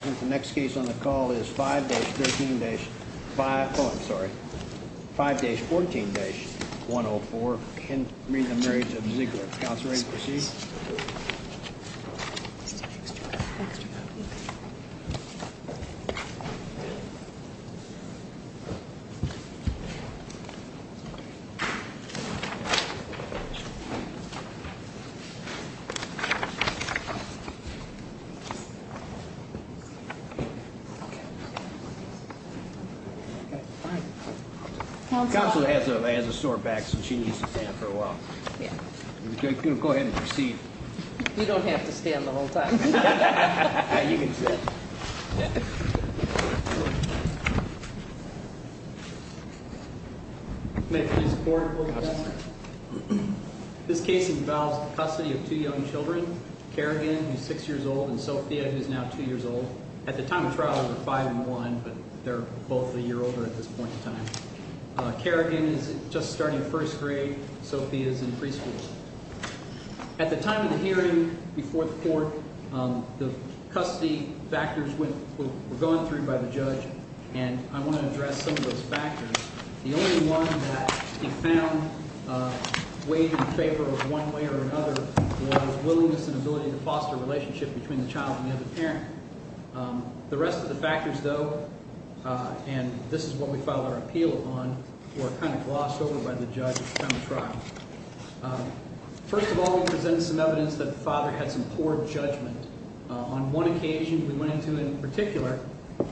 The next case on the call is 5-13-5, I'm sorry, 5-14-104 can read the marriage of Ziegler. Counsel has a sore back so she needs to stand for a while. Go ahead and proceed. You don't have to stand the whole time. You can sit. This case involves custody of two young children, Kerrigan who is 6 years old and Sophia who is now 2 years old. At the time of trial they were 5 and 1 but they're both a year older at this point in time. Kerrigan is just starting first grade. Sophia is in preschool. At the time of the hearing before the court, the custody factors were gone through by the judge and I want to address some of those factors. The only one that he found weighed in favor of one way or another was willingness and ability to foster a relationship between the child and the other parent. The rest of the factors though, and this is what we filed our appeal on, were kind of glossed over by the judge at the time of trial. First of all, we presented some evidence that the father had some poor judgment. On one occasion we went into in particular,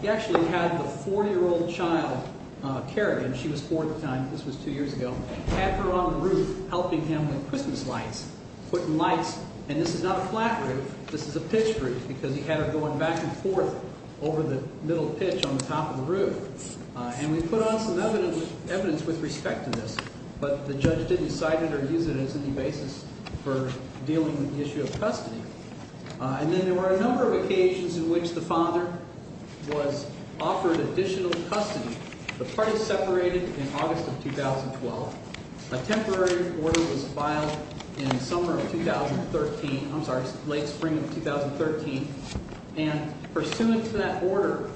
he actually had the 4 year old child, Kerrigan, she was 4 at the time, this was 2 years ago, had her on the roof helping him with Christmas lights, putting lights, and this is not a flat roof, this is a pitched roof because he had her going back and forth over the middle pitch on the top of the roof. And we put on some evidence with respect to this but the judge didn't cite it or use it as any basis for dealing with the issue of custody. And then there were a number of occasions in which the father was offered additional custody. The parties separated in August of 2012. A temporary order was filed in summer of 2013, I'm sorry, late spring of 2013 and pursuant to that order,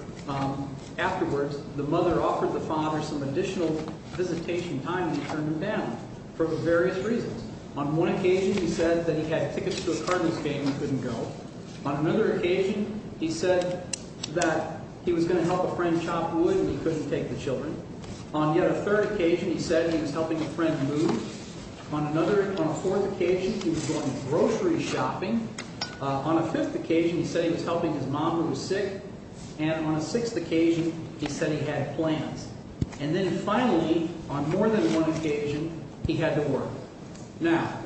afterwards, the mother offered the father some additional visitation time and he turned them down for various reasons. On one occasion he said that he had tickets to a Cardinals game and couldn't go. On another occasion he said that he was going to help a friend chop wood and he couldn't take the children. On yet a third occasion he said he was helping a friend move. On a fourth occasion he was going grocery shopping. On a fifth occasion he said he was helping his mom who was sick. And on a sixth occasion he said he had plans. And then finally, on more than one occasion, he had to work. Now,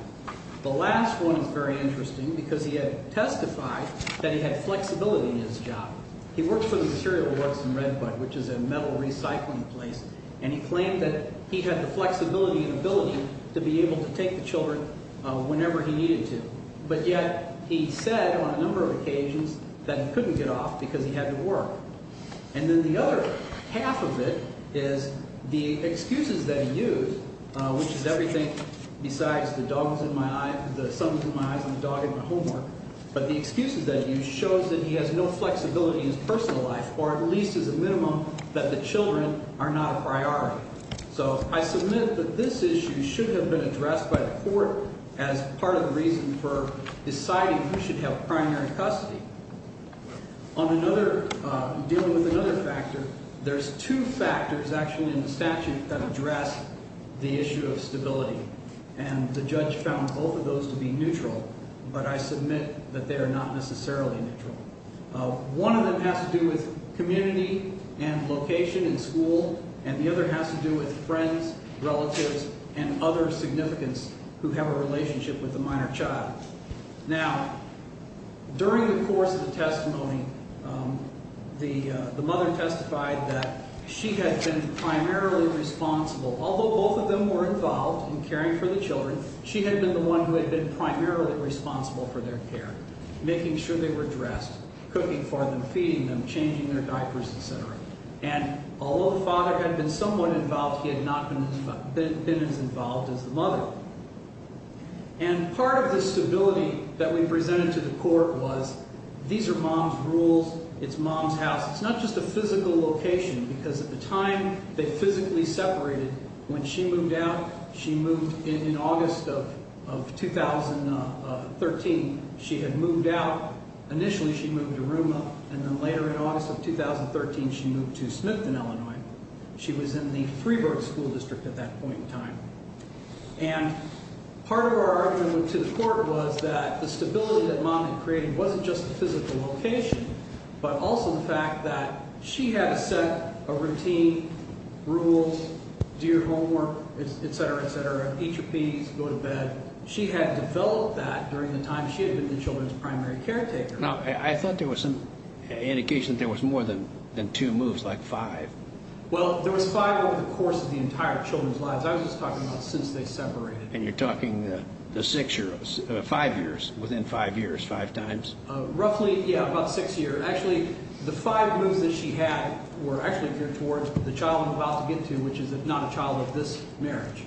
the last one is very interesting because he had testified that he had flexibility in his job. He worked for the Material Works in Redbud which is a metal recycling place and he claimed that he had the flexibility and ability to be able to take the children whenever he needed to. But yet he said on a number of occasions that he couldn't get off because he had to work. And then the other half of it is the excuses that he used, which is everything besides the dogs in my eyes, the sons in my eyes and the dog in my homework. But the excuses that he used shows that he has no flexibility in his personal life or at least as a minimum that the children are not a priority. So I submit that this issue should have been addressed by the court as part of the reason for deciding who should have primary custody. On another – dealing with another factor, there's two factors actually in the statute that address the issue of stability. And the judge found both of those to be neutral, but I submit that they are not necessarily neutral. One of them has to do with community and location and school, and the other has to do with friends, relatives and other significance who have a relationship with a minor child. Now, during the course of the testimony, the mother testified that she had been primarily responsible. Although both of them were involved in caring for the children, she had been the one who had been primarily responsible for their care, making sure they were dressed, cooking for them, feeding them, changing their diapers, et cetera. And although the father had been somewhat involved, he had not been as involved as the mother. And part of the stability that we presented to the court was these are mom's rules, it's mom's house. It's not just a physical location because at the time they physically separated. When she moved out, she moved – in August of 2013, she had moved out. Initially, she moved to Ruma, and then later in August of 2013, she moved to Smithton, Illinois. She was in the Freeburg School District at that point in time. And part of our argument to the court was that the stability that mom had created wasn't just the physical location, but also the fact that she had to set a routine, rules, do your homework, et cetera, et cetera, eat your peas, go to bed. She had developed that during the time she had been the children's primary caretaker. Now, I thought there was some indication that there was more than two moves, like five. Well, there was five over the course of the entire children's lives. I was just talking about since they separated. And you're talking the six years, five years, within five years, five times? Roughly, yeah, about six years. Actually, the five moves that she had were actually geared towards the child I'm about to get to, which is not a child of this marriage.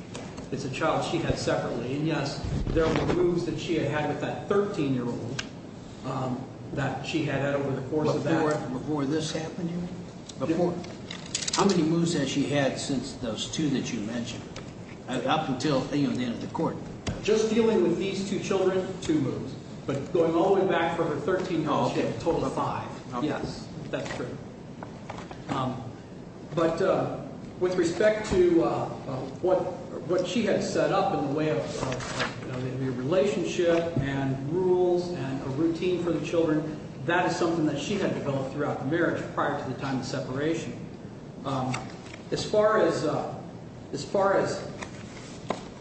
It's a child she had separately. And, yes, there were moves that she had had with that 13-year-old that she had had over the course of that. Before this happened here? Before. How many moves has she had since those two that you mentioned up until the end of the court? Just dealing with these two children, two moves. But going all the way back for her 13-year-old, she had a total of five. Yes, that's true. But with respect to what she had set up in the way of a relationship and rules and a routine for the children, that is something that she had developed throughout the marriage prior to the time of separation. As far as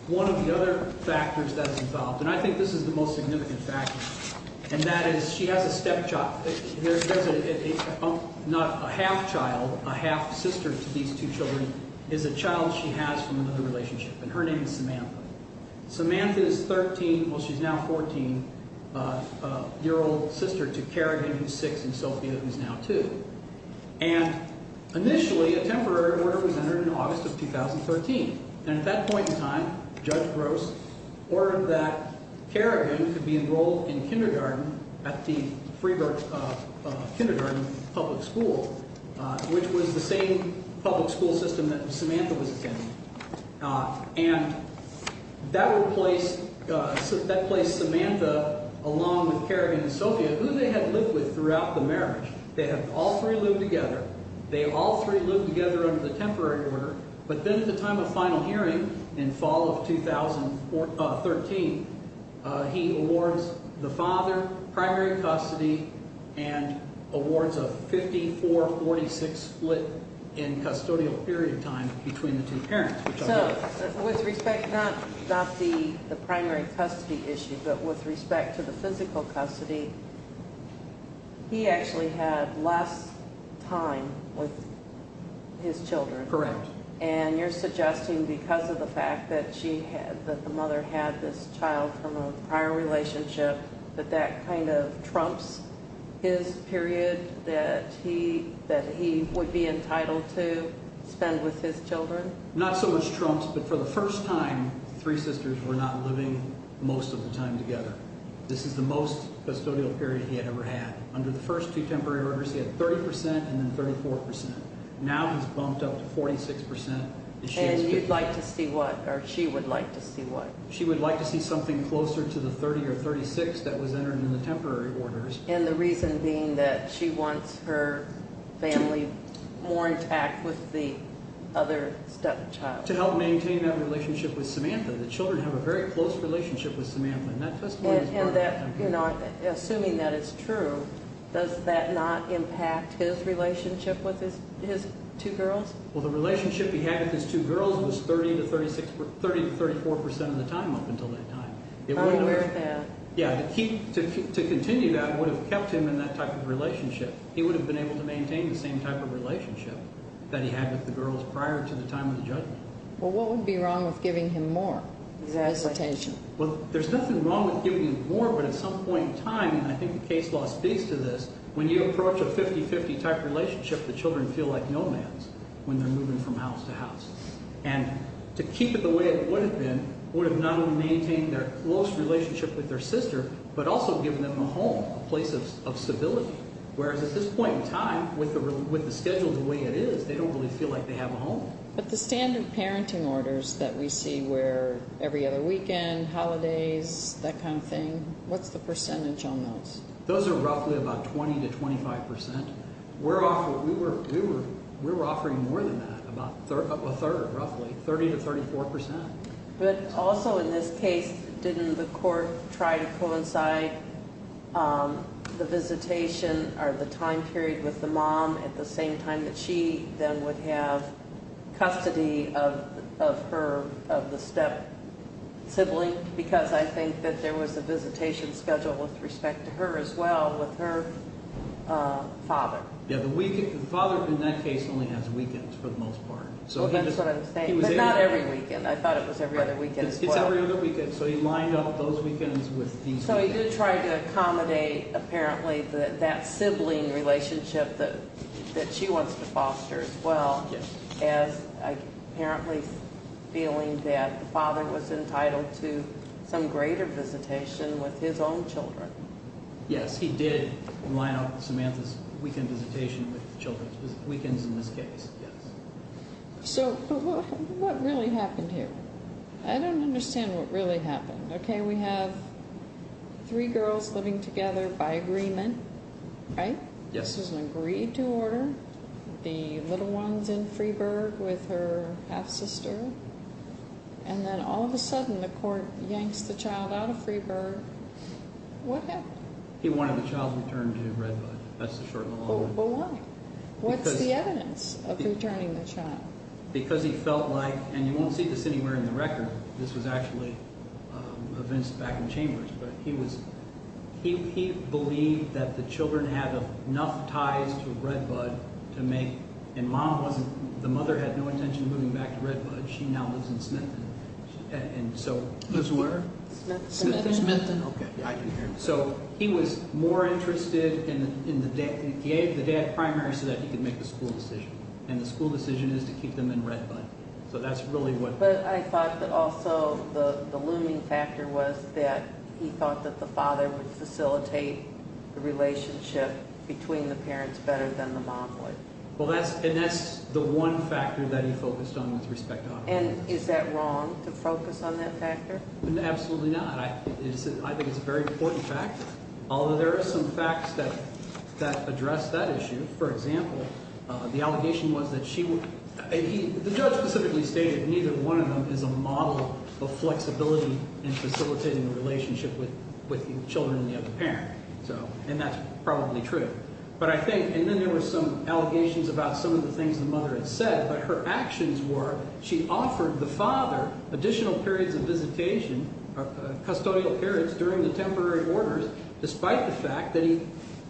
one of the other factors that is involved, and I think this is the most significant factor, and that is she has a stepchild. There's not a half-child. A half-sister to these two children is a child she has from another relationship, and her name is Samantha. Samantha is 13. Well, she's now 14, a year-old sister to Kerrigan, who's six, and Sophia, who's now two. And initially, a temporary order was entered in August of 2013, and at that point in time, Judge Gross ordered that Kerrigan could be enrolled in kindergarten at the Freeburg Kindergarten Public School, which was the same public school system that Samantha was attending. And that replaced Samantha along with Kerrigan and Sophia, who they had lived with throughout the marriage. They had all three lived together. They all three lived together under the temporary order, but then at the time of final hearing in fall of 2013, he awards the father primary custody and awards a 54-46 split in custodial period of time between the two parents. So, with respect not to the primary custody issue, but with respect to the physical custody, he actually had less time with his children. Correct. And you're suggesting because of the fact that the mother had this child from a prior relationship, that that kind of trumps his period that he would be entitled to spend with his children? Not so much trumps, but for the first time, the three sisters were not living most of the time together. This is the most custodial period he had ever had. Under the first two temporary orders, he had 30% and then 34%. Now, he's bumped up to 46%. And you'd like to see what, or she would like to see what? She would like to see something closer to the 30 or 36 that was entered in the temporary orders. And the reason being that she wants her family more intact with the other stepchild. To help maintain that relationship with Samantha. The children have a very close relationship with Samantha, and that testimony is part of that. Assuming that is true, does that not impact his relationship with his two girls? Well, the relationship he had with his two girls was 30 to 34% of the time up until that time. I'm aware of that. Yeah, to continue that would have kept him in that type of relationship. He would have been able to maintain the same type of relationship that he had with the girls prior to the time of the judgment. Well, what would be wrong with giving him more? His hesitation. Well, there's nothing wrong with giving him more, but at some point in time, and I think the case law speaks to this, when you approach a 50-50 type relationship, the children feel like nomads when they're moving from house to house. And to keep it the way it would have been would have not only maintained their close relationship with their sister, but also given them a home, a place of civility. Whereas at this point in time, with the schedule the way it is, they don't really feel like they have a home. But the standard parenting orders that we see where every other weekend, holidays, that kind of thing, what's the percentage on those? Those are roughly about 20 to 25%. We were offering more than that, about a third, roughly, 30 to 34%. But also in this case, didn't the court try to coincide the visitation or the time period with the mom at the same time that she then would have custody of her, of the step-sibling, because I think that there was a visitation schedule with respect to her as well with her father. Yeah, the father in that case only has weekends for the most part. Well, that's what I'm saying, but not every weekend. I thought it was every other weekend as well. It's every other weekend, so he lined up those weekends with these weekends. So he did try to accommodate, apparently, that sibling relationship that she wants to foster as well as apparently feeling that the father was entitled to some greater visitation with his own children. Yes, he did line up Samantha's weekend visitation with children's weekends in this case, yes. So what really happened here? I don't understand what really happened. Okay, we have three girls living together by agreement, right? Yes. This was an agreed-to order, the little one's in Freeburg with her half-sister, and then all of a sudden the court yanks the child out of Freeburg. What happened? He wanted the child returned to Redwood. That's the short and the long one. But why? What's the evidence of returning the child? Because he felt like, and you won't see this anywhere in the record, this was actually evinced back in Chambers, but he was, he believed that the children had enough ties to Redwood to make, and mom wasn't, the mother had no intention of moving back to Redwood. She now lives in Smithton, and so. Who's where? Smithton. Okay, I can hear you. So he was more interested in, he gave the dad primary so that he could make the school decision, and the school decision is to keep them in Redwood. So that's really what. But I thought that also the looming factor was that he thought that the father would facilitate the relationship between the parents better than the mom would. Well, that's, and that's the one factor that he focused on with respect to. And is that wrong to focus on that factor? Absolutely not. I think it's a very important factor. Although there are some facts that address that issue. For example, the allegation was that she would, the judge specifically stated neither one of them is a model of flexibility in facilitating a relationship with children and the other parent. So, and that's probably true. But I think, and then there were some allegations about some of the things the mother had said, but her actions were, she offered the father additional periods of visitation, custodial periods during the temporary orders, despite the fact that he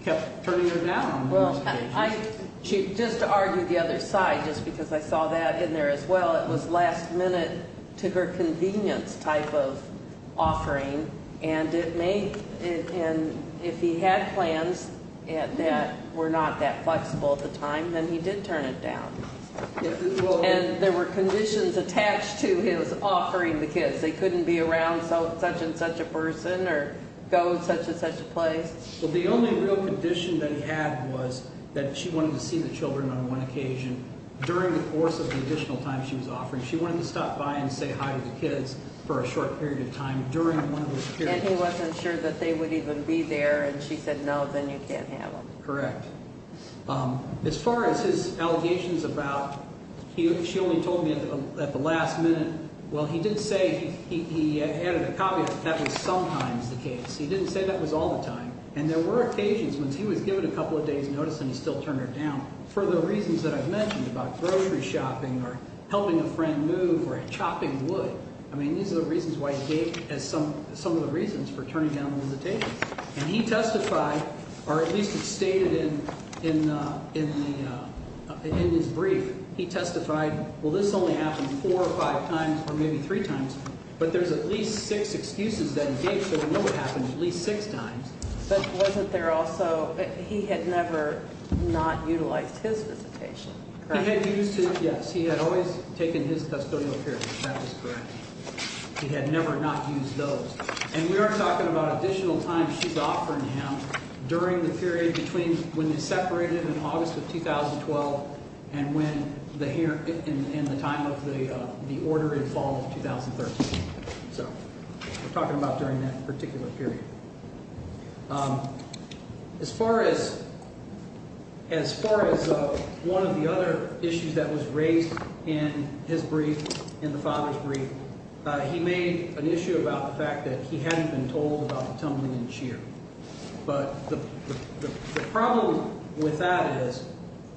kept turning her down. Well, I, just to argue the other side, just because I saw that in there as well, it was last minute to her convenience type of offering, and it made, and if he had plans that were not that flexible at the time, then he did turn it down. And there were conditions attached to his offering the kids. They couldn't be around such and such a person or go to such and such a place. Well, the only real condition that he had was that she wanted to see the children on one occasion during the course of the additional time she was offering. She wanted to stop by and say hi to the kids for a short period of time during one of those periods. And he wasn't sure that they would even be there, and she said, no, then you can't have them. Correct. As far as his allegations about, she only told me at the last minute. Well, he did say he added a copy of it. That was sometimes the case. He didn't say that was all the time. And there were occasions when he was given a couple of days notice and he still turned her down for the reasons that I've mentioned about grocery shopping or helping a friend move or chopping wood. I mean, these are the reasons why he gave as some of the reasons for turning down the visitation. And he testified, or at least it's stated in his brief. He testified, well, this only happened four or five times or maybe three times. But there's at least six excuses that he gave. So we know it happened at least six times. But wasn't there also he had never not utilized his visitation? He had used it, yes. He had always taken his custodial care. That was correct. He had never not used those. And we are talking about additional time she's offering him during the period between when they separated in August of 2012 and when the time of the order in fall of 2013. So we're talking about during that particular period. As far as as far as one of the other issues that was raised in his brief in the father's brief, he made an issue about the fact that he hadn't been told about the tumbling in cheer. But the problem with that is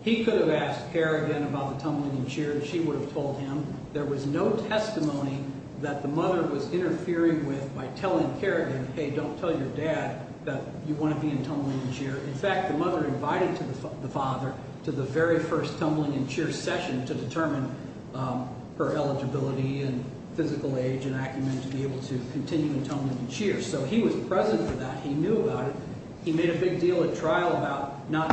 he could have asked Kerrigan about the tumbling in cheer, and she would have told him. There was no testimony that the mother was interfering with by telling Kerrigan, hey, don't tell your dad that you want to be in tumbling in cheer. In fact, the mother invited the father to the very first tumbling in cheer session to determine her eligibility and physical age and acumen to be able to continue in tumbling in cheer. So he was present for that. He knew about it. He made a big deal at trial about not.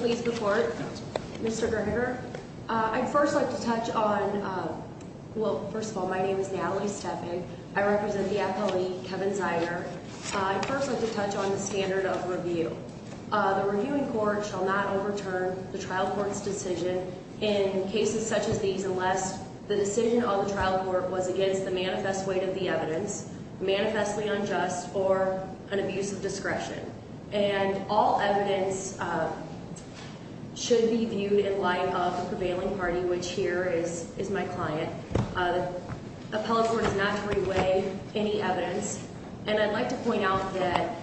Please report, Mr. Gregor. I'd first like to touch on. Well, first of all, my name is Natalie stepping. I represent the appellate Kevin Zeiger. I'd first like to touch on the standard of review. The reviewing court shall not overturn the trial court's decision in cases such as these, unless the decision on the trial court was against the manifest weight of the evidence, manifestly unjust or an abuse of discretion. And all evidence should be viewed in light of the prevailing party, which here is is my client. Appellate court is not to reweigh any evidence. And I'd like to point out that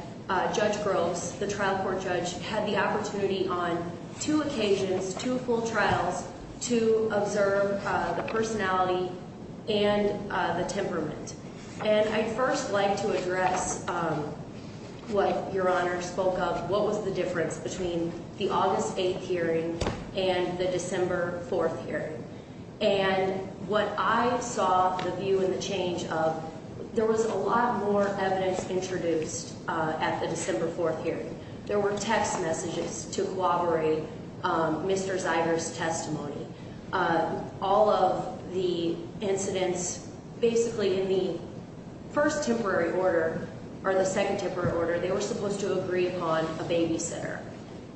Judge Groves, the trial court judge, had the opportunity on two occasions, two full trials to observe the personality and the temperament. And I'd first like to address what your honor spoke of. What was the difference between the August 8th hearing and the December 4th hearing? And what I saw the view in the change of there was a lot more evidence introduced at the December 4th hearing. There were text messages to cooperate. Mr. Zeiger's testimony, all of the incidents, basically in the first temporary order or the second temporary order, they were supposed to agree upon a babysitter.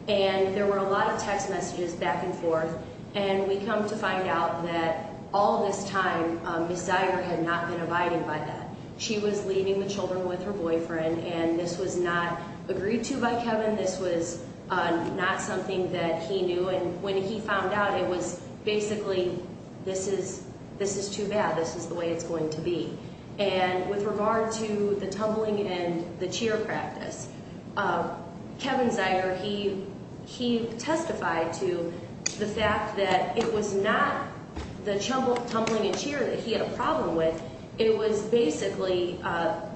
And there were a lot of text messages back and forth. And we come to find out that all this time, Ms. Zeiger had not been abided by that. She was leaving the children with her boyfriend, and this was not agreed to by Kevin. This was not something that he knew. And when he found out, it was basically, this is too bad. This is the way it's going to be. And with regard to the tumbling and the cheer practice, Kevin Zeiger, he testified to the fact that it was not the tumbling and cheer that he had a problem with. It was basically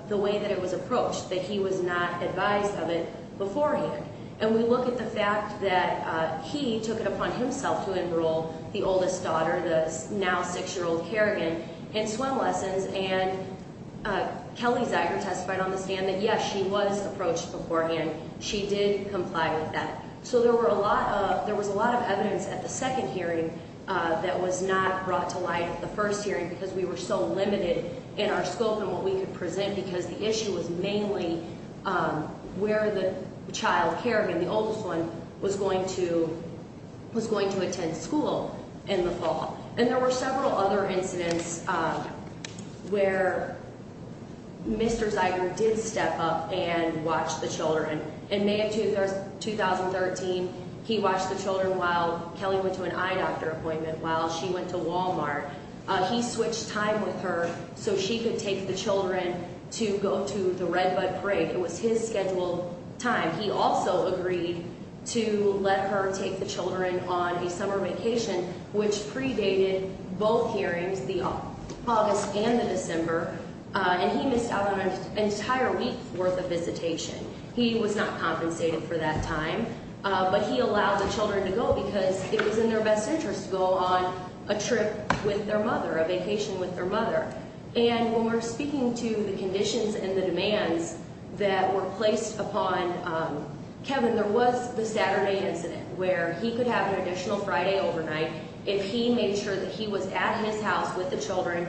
the way that it was approached, that he was not advised of it beforehand. And we look at the fact that he took it upon himself to enroll the oldest daughter, the now 6-year-old Kerrigan, in swim lessons. And Kelly Zeiger testified on the stand that, yes, she was approached beforehand. She did comply with that. So there was a lot of evidence at the second hearing that was not brought to light at the first hearing because we were so limited in our scope and what we could present, because the issue was mainly where the child, Kerrigan, the oldest one, was going to attend school in the fall. And there were several other incidents where Mr. Zeiger did step up and watch the children. In May of 2013, he watched the children while Kelly went to an eye doctor appointment while she went to Walmart. He switched time with her so she could take the children to go to the Redbud Parade. It was his scheduled time. He also agreed to let her take the children on a summer vacation, which predated both hearings, the August and the December. And he missed out on an entire week's worth of visitation. He was not compensated for that time, but he allowed the children to go because it was in their best interest to go on a trip with their mother, a vacation with their mother. And when we're speaking to the conditions and the demands that were placed upon Kevin, there was the Saturday incident where he could have an additional Friday overnight if he made sure that he was at his house with the children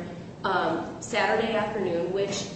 Saturday afternoon, which,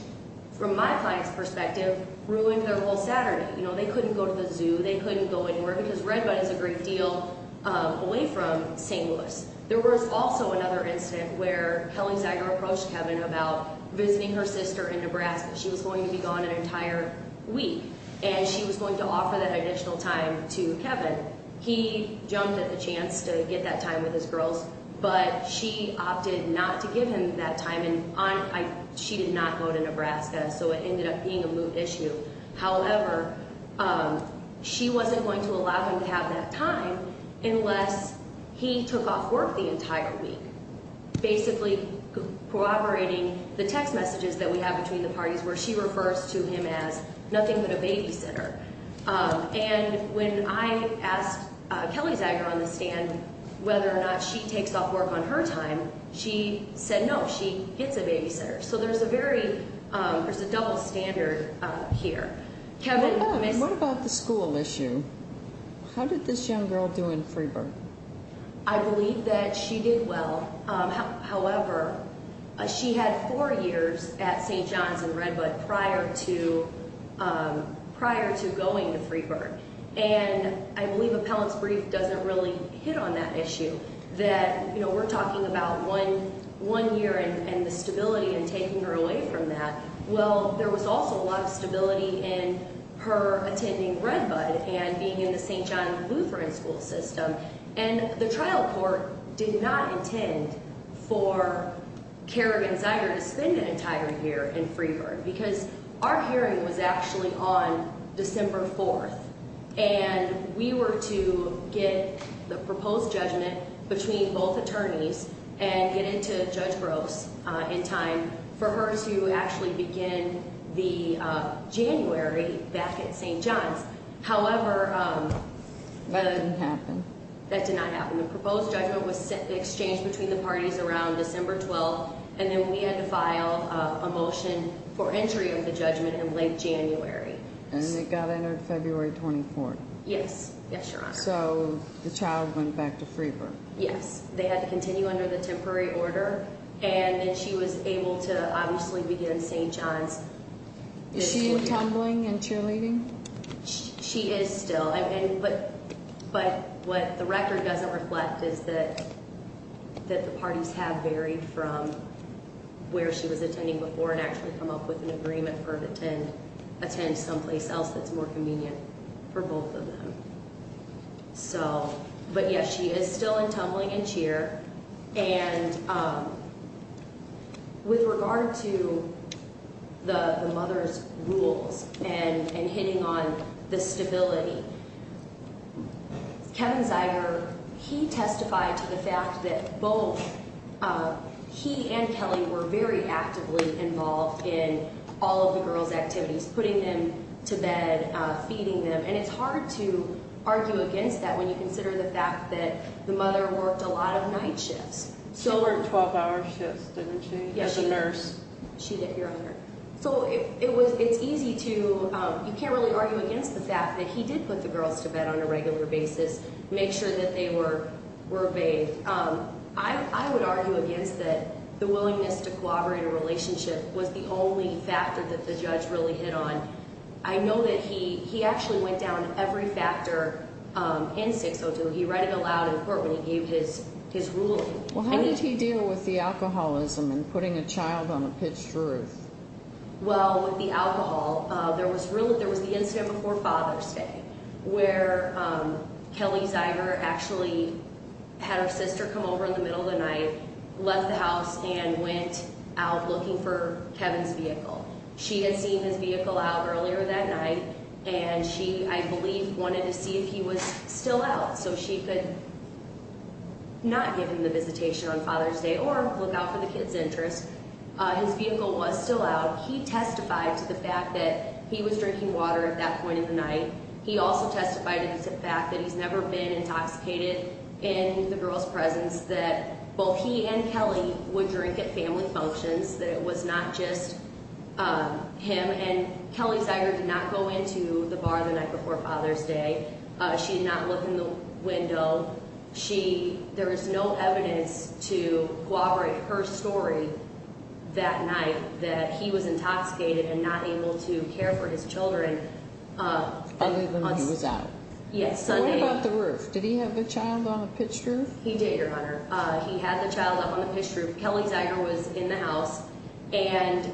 from my client's perspective, ruined their whole Saturday. They couldn't go to the zoo. They couldn't go anywhere because Redbud is a great deal away from St. Louis. There was also another incident where Kelly Zeiger approached Kevin about visiting her sister in Nebraska. She was going to be gone an entire week, and she was going to offer that additional time to Kevin. He jumped at the chance to get that time with his girls, but she opted not to give him that time, and she did not go to Nebraska, so it ended up being a moot issue. However, she wasn't going to allow him to have that time unless he took off work the entire week, basically corroborating the text messages that we have between the parties where she refers to him as nothing but a babysitter. When I asked Kelly Zeiger on the stand whether or not she takes off work on her time, she said no. She is a babysitter, so there's a double standard here. What about the school issue? How did this young girl do in Freeburg? I believe that she did well. However, she had four years at St. John's and Redbud prior to going to Freeburg, and I believe appellant's brief doesn't really hit on that issue that we're talking about one year and the stability and taking her away from that. Well, there was also a lot of stability in her attending Redbud and being in the St. John Lutheran school system, and the trial court did not intend for Kerrigan Zeiger to spend an entire year in Freeburg because our hearing was actually on December 4th, and we were to get the proposed judgment between both attorneys and get it to Judge Gross in time for her to actually begin the January back at St. John's. That didn't happen. That did not happen. The proposed judgment was exchanged between the parties around December 12th, and then we had to file a motion for entry of the judgment in late January. And it got entered February 24th. Yes. Yes, Your Honor. So the child went back to Freeburg. Yes. They had to continue under the temporary order, and then she was able to obviously begin St. John's. Is she tumbling and cheerleading? She is still, but what the record doesn't reflect is that the parties have varied from where she was attending before and actually come up with an agreement for her to attend someplace else that's more convenient for both of them. But yes, she is still in tumbling and cheer, and with regard to the mother's rules and hitting on the stability, Kevin Zeiger, he testified to the fact that both he and Kelly were very actively involved in all of the girls' activities, putting them to bed, feeding them. And it's hard to argue against that when you consider the fact that the mother worked a lot of night shifts. She worked 12-hour shifts, didn't she, as a nurse? She did, Your Honor. So it's easy to—you can't really argue against the fact that he did put the girls to bed on a regular basis, make sure that they were bathed. I would argue against that the willingness to collaborate in a relationship was the only factor that the judge really hit on. I know that he actually went down every factor in 602. He read it aloud in court when he gave his ruling. Well, how did he deal with the alcoholism and putting a child on a pitched roof? Well, with the alcohol, there was the incident before Father's Day where Kelly Zeiger actually had her sister come over in the middle of the night, left the house, and went out looking for Kevin's vehicle. She had seen his vehicle out earlier that night, and she, I believe, wanted to see if he was still out so she could not give him the visitation on Father's Day or look out for the kids' interests. His vehicle was still out. He testified to the fact that he was drinking water at that point of the night. He also testified to the fact that he's never been intoxicated in the girls' presence, that both he and Kelly would drink at family functions, that it was not just him. And Kelly Zeiger did not go into the bar the night before Father's Day. She did not look in the window. There is no evidence to corroborate her story that night that he was intoxicated and not able to care for his children. Only when he was out. Yes, Sunday. What about the roof? Did he have the child on a pitched roof? He did, Your Honor. He had the child up on the pitched roof. Kelly Zeiger was in the house, and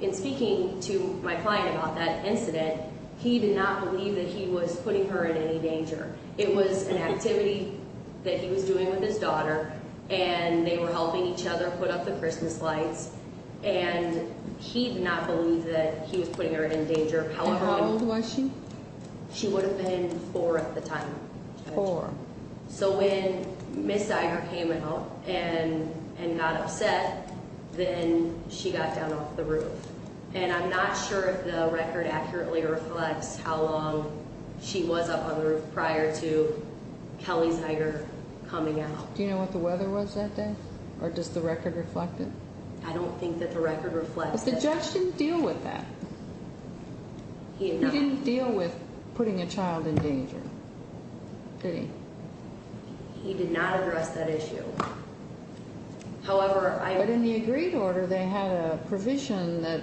in speaking to my client about that incident, he did not believe that he was putting her in any danger. It was an activity that he was doing with his daughter, and they were helping each other put up the Christmas lights, and he did not believe that he was putting her in danger. How old was she? She would have been four at the time. Four. So when Ms. Zeiger came out and got upset, then she got down off the roof. And I'm not sure if the record accurately reflects how long she was up on the roof prior to Kelly Zeiger coming out. Do you know what the weather was that day, or does the record reflect it? I don't think that the record reflects it. But the judge didn't deal with that. He did not. He didn't deal with putting a child in danger, did he? He did not address that issue. But in the agreed order, they had a provision that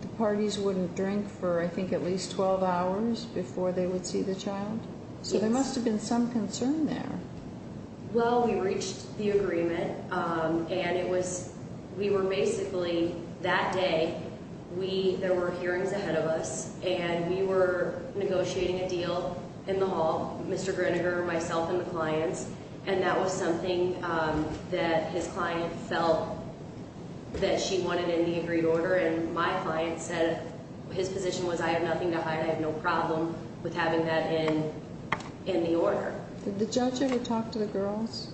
the parties wouldn't drink for, I think, at least 12 hours before they would see the child. So there must have been some concern there. Well, we reached the agreement, and it was we were basically that day, there were hearings ahead of us, and we were negotiating a deal in the hall, Mr. Grinegar, myself, and the clients, and that was something that his client felt that she wanted in the agreed order, and my client said his position was I have nothing to hide, I have no problem with having that in the order. Did the judge ever talk to the girls?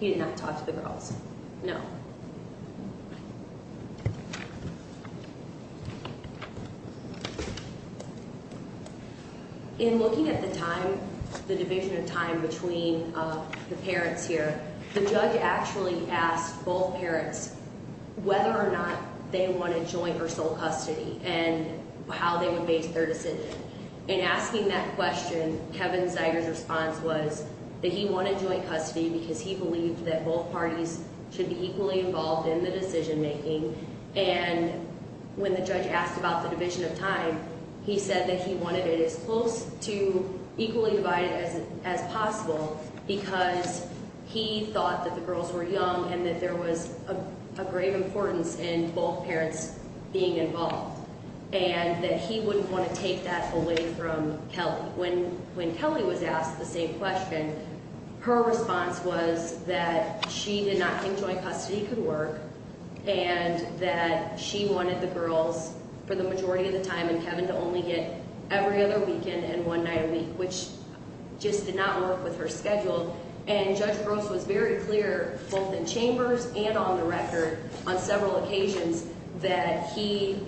He did not talk to the girls, no. In looking at the time, the division of time between the parents here, the judge actually asked both parents whether or not they wanted joint or sole custody and how they would base their decision. In asking that question, Kevin Zeiger's response was that he wanted joint custody because he believed that both parties should be equally involved in the decision-making, and when the judge asked about the division of time, he said that he wanted it as close to equally divided as possible because he thought that the girls were young and that there was a grave importance in both parents being involved and that he wouldn't want to take that away from Kelly. When Kelly was asked the same question, her response was that she did not think joint custody could work and that she wanted the girls for the majority of the time and Kevin to only get every other weekend and one night a week, which just did not work with her schedule, and Judge Gross was very clear both in chambers and on the record on several occasions that he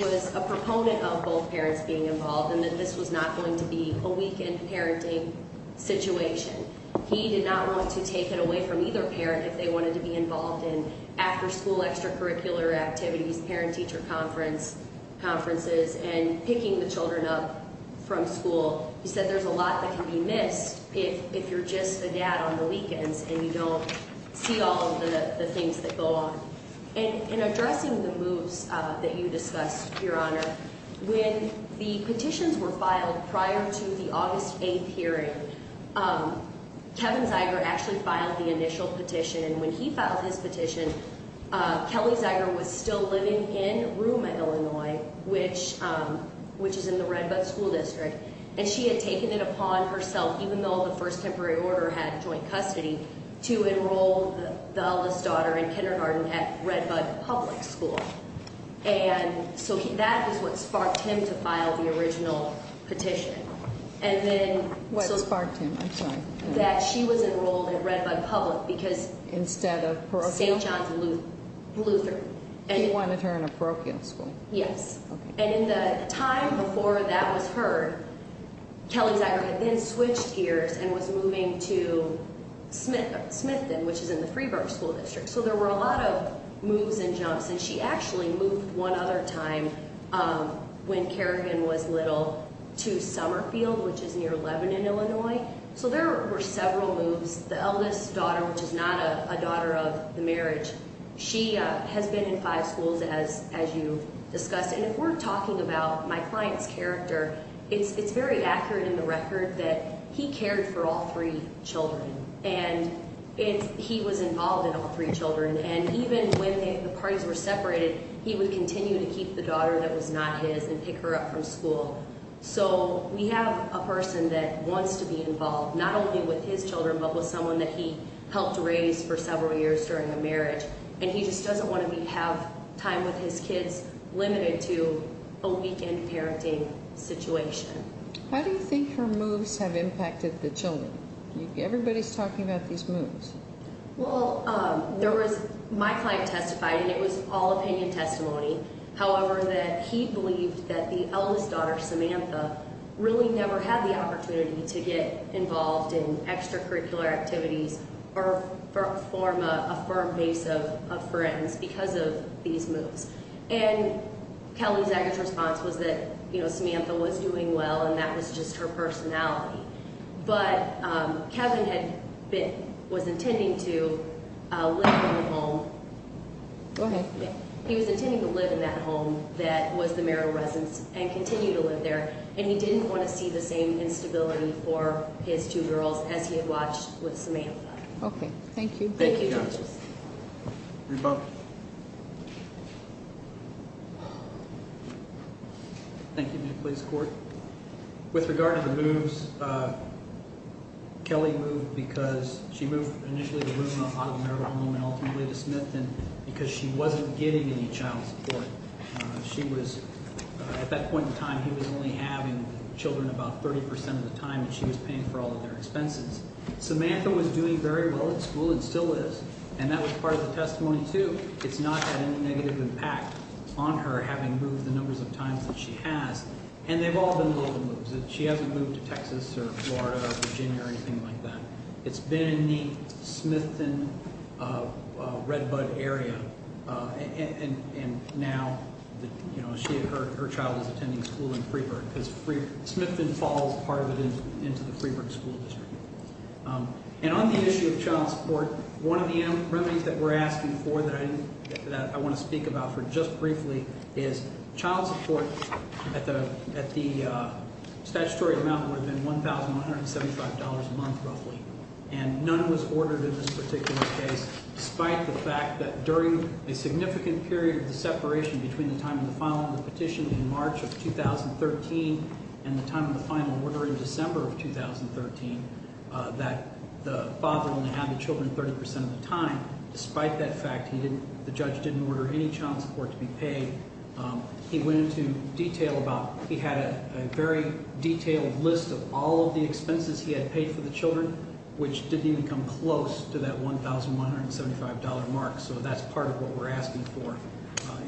was a proponent of both parents being involved and that this was not going to be a weekend parenting situation. He did not want to take it away from either parent if they wanted to be involved in after-school extracurricular activities, parent-teacher conferences, and picking the children up from school. He said there's a lot that can be missed if you're just a dad on the weekends and you don't see all of the things that go on. In addressing the moves that you discussed, Your Honor, when the petitions were filed prior to the August 8th hearing, Kevin Zeiger actually filed the initial petition, and when he filed his petition, Kelly Zeiger was still living in Ruma, Illinois, which is in the Redwood School District, and she had taken it upon herself, even though the first temporary order had joint custody, to enroll the eldest daughter in kindergarten at Redbud Public School. And so that was what sparked him to file the original petition. What sparked him? I'm sorry. That she was enrolled at Redbud Public because... Instead of parochial? St. John's Luther. He wanted her in a parochial school. Yes. And in the time before that was heard, Kelly Zeiger had then switched gears and was moving to Smithton, which is in the Freeburg School District. So there were a lot of moves and jumps, and she actually moved one other time when Kerrigan was little to Summerfield, which is near Lebanon, Illinois. So there were several moves. The eldest daughter, which is not a daughter of the marriage, she has been in five schools, as you discussed. And if we're talking about my client's character, it's very accurate in the record that he cared for all three children, and he was involved in all three children, and even when the parties were separated, he would continue to keep the daughter that was not his and pick her up from school. So we have a person that wants to be involved, not only with his children, but with someone that he helped raise for several years during a marriage, and he just doesn't want to have time with his kids limited to a weekend parenting situation. How do you think her moves have impacted the children? Everybody's talking about these moves. Well, my client testified, and it was all opinion testimony, however, that he believed that the eldest daughter, Samantha, really never had the opportunity to get involved in extracurricular activities or form a firm base of friends because of these moves. And Kelly Zagar's response was that, you know, Samantha was doing well, and that was just her personality. But Kevin was intending to live in a home. Go ahead. He was intending to live in that home that was the marital residence and continue to live there, and he didn't want to see the same instability for his two girls as he had watched with Samantha. Okay, thank you. Thank you, judges. Thank you. With regard to the moves, Kelly moved because she moved initially out of the marital home and ultimately to Smithton because she wasn't getting any child support. At that point in time, he was only having children about 30 percent of the time, and she was paying for all of their expenses. Samantha was doing very well at school and still is, and that was part of the testimony, too. It's not had any negative impact on her having moved the numbers of times that she has. And they've all been local moves. She hasn't moved to Texas or Florida or Virginia or anything like that. It's been in the Smithton-Redbud area, and now her child is attending school in Freeburg because Smithton falls part of it into the Freeburg school district. And on the issue of child support, one of the remedies that we're asking for that I want to speak about for just briefly is child support at the statutory amount would have been $1,175 a month roughly, and none was ordered in this particular case despite the fact that during a significant period of the separation between the time of the filing of the petition in March of 2013 and the time of the final order in December of 2013, that the father only had the children 30 percent of the time. Despite that fact, the judge didn't order any child support to be paid. He went into detail about he had a very detailed list of all of the expenses he had paid for the children, which didn't even come close to that $1,175 mark. So that's part of what we're asking for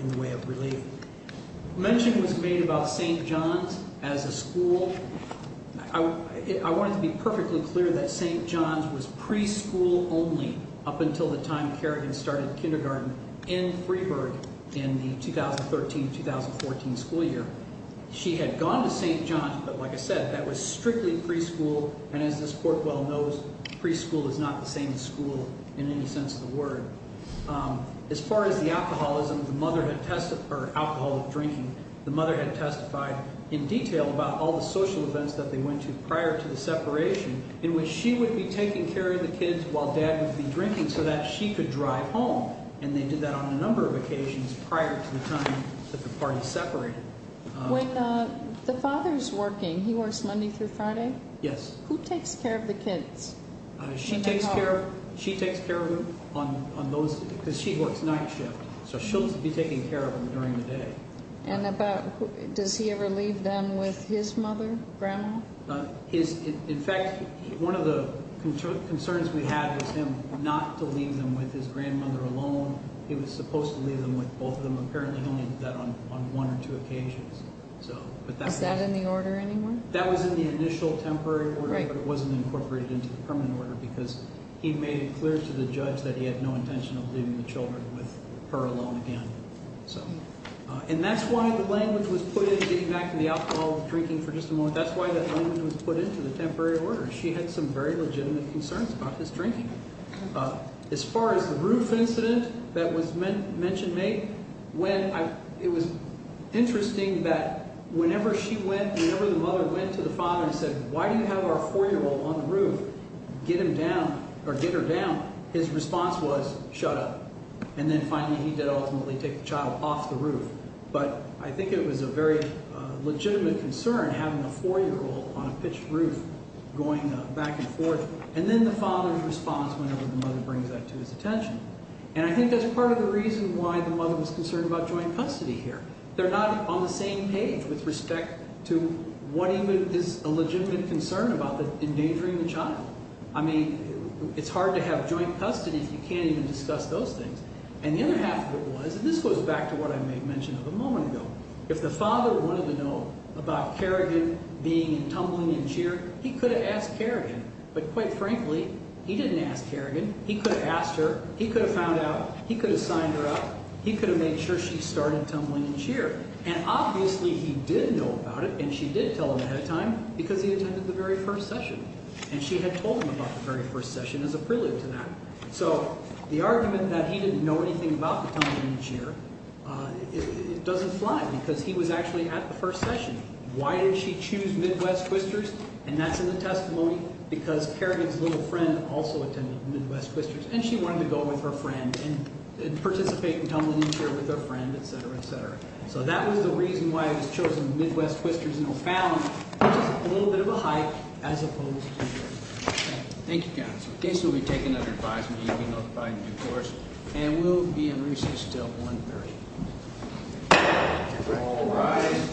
in the way of relief. Mention was made about St. John's as a school. I wanted to be perfectly clear that St. John's was preschool only up until the time Kerrigan started kindergarten in Freeburg in the 2013-2014 school year. She had gone to St. John's, but like I said, that was strictly preschool, and as this court well knows, preschool is not the same as school in any sense of the word. As far as the alcoholism, or alcohol of drinking, the mother had testified in detail about all the social events that they went to prior to the separation in which she would be taking care of the kids while dad would be drinking so that she could drive home, and they did that on a number of occasions prior to the time that the parties separated. When the father's working, he works Monday through Friday? Yes. Who takes care of the kids? She takes care of them because she works night shift, so she'll be taking care of them during the day. And does he ever leave them with his mother, grandma? In fact, one of the concerns we had was him not to leave them with his grandmother alone. He was supposed to leave them with both of them. Apparently, he only did that on one or two occasions. Is that in the order anymore? That was in the initial temporary order, but it wasn't incorporated into the permanent order because he made it clear to the judge that he had no intention of leaving the children with her alone again. And that's why the language was put in, getting back to the alcohol of drinking for just a moment, that's why that language was put into the temporary order. She had some very legitimate concerns about his drinking. As far as the roof incident that was mentioned, it was interesting that whenever the mother went to the father and said, why do you have our 4-year-old on the roof? Get her down. His response was, shut up. And then finally he did ultimately take the child off the roof. But I think it was a very legitimate concern having a 4-year-old on a pitched roof going back and forth. And then the father's response whenever the mother brings that to his attention. And I think that's part of the reason why the mother was concerned about joint custody here. They're not on the same page with respect to what even is a legitimate concern about endangering the child. I mean, it's hard to have joint custody if you can't even discuss those things. And the other half of it was, and this goes back to what I made mention of a moment ago, if the father wanted to know about Kerrigan being and tumbling and cheering, he could have asked Kerrigan. But quite frankly, he didn't ask Kerrigan. He could have asked her. He could have found out. He could have signed her up. He could have made sure she started tumbling and cheer. And obviously he did know about it and she did tell him ahead of time because he attended the very first session. And she had told him about the very first session as a prelude to that. So the argument that he didn't know anything about the tumbling and cheer, it doesn't fly because he was actually at the first session. Why did she choose Midwest Twisters? And that's in the testimony because Kerrigan's little friend also attended Midwest Twisters. And she wanted to go with her friend and participate in tumbling and cheer with her friend, et cetera, et cetera. So that was the reason why it was chosen Midwest Twisters. And it found just a little bit of a hype as opposed to here. Thank you, counsel. In case you'll be taking another advisement, you'll be notified in due course. And we'll be in recess until 1.30. All rise.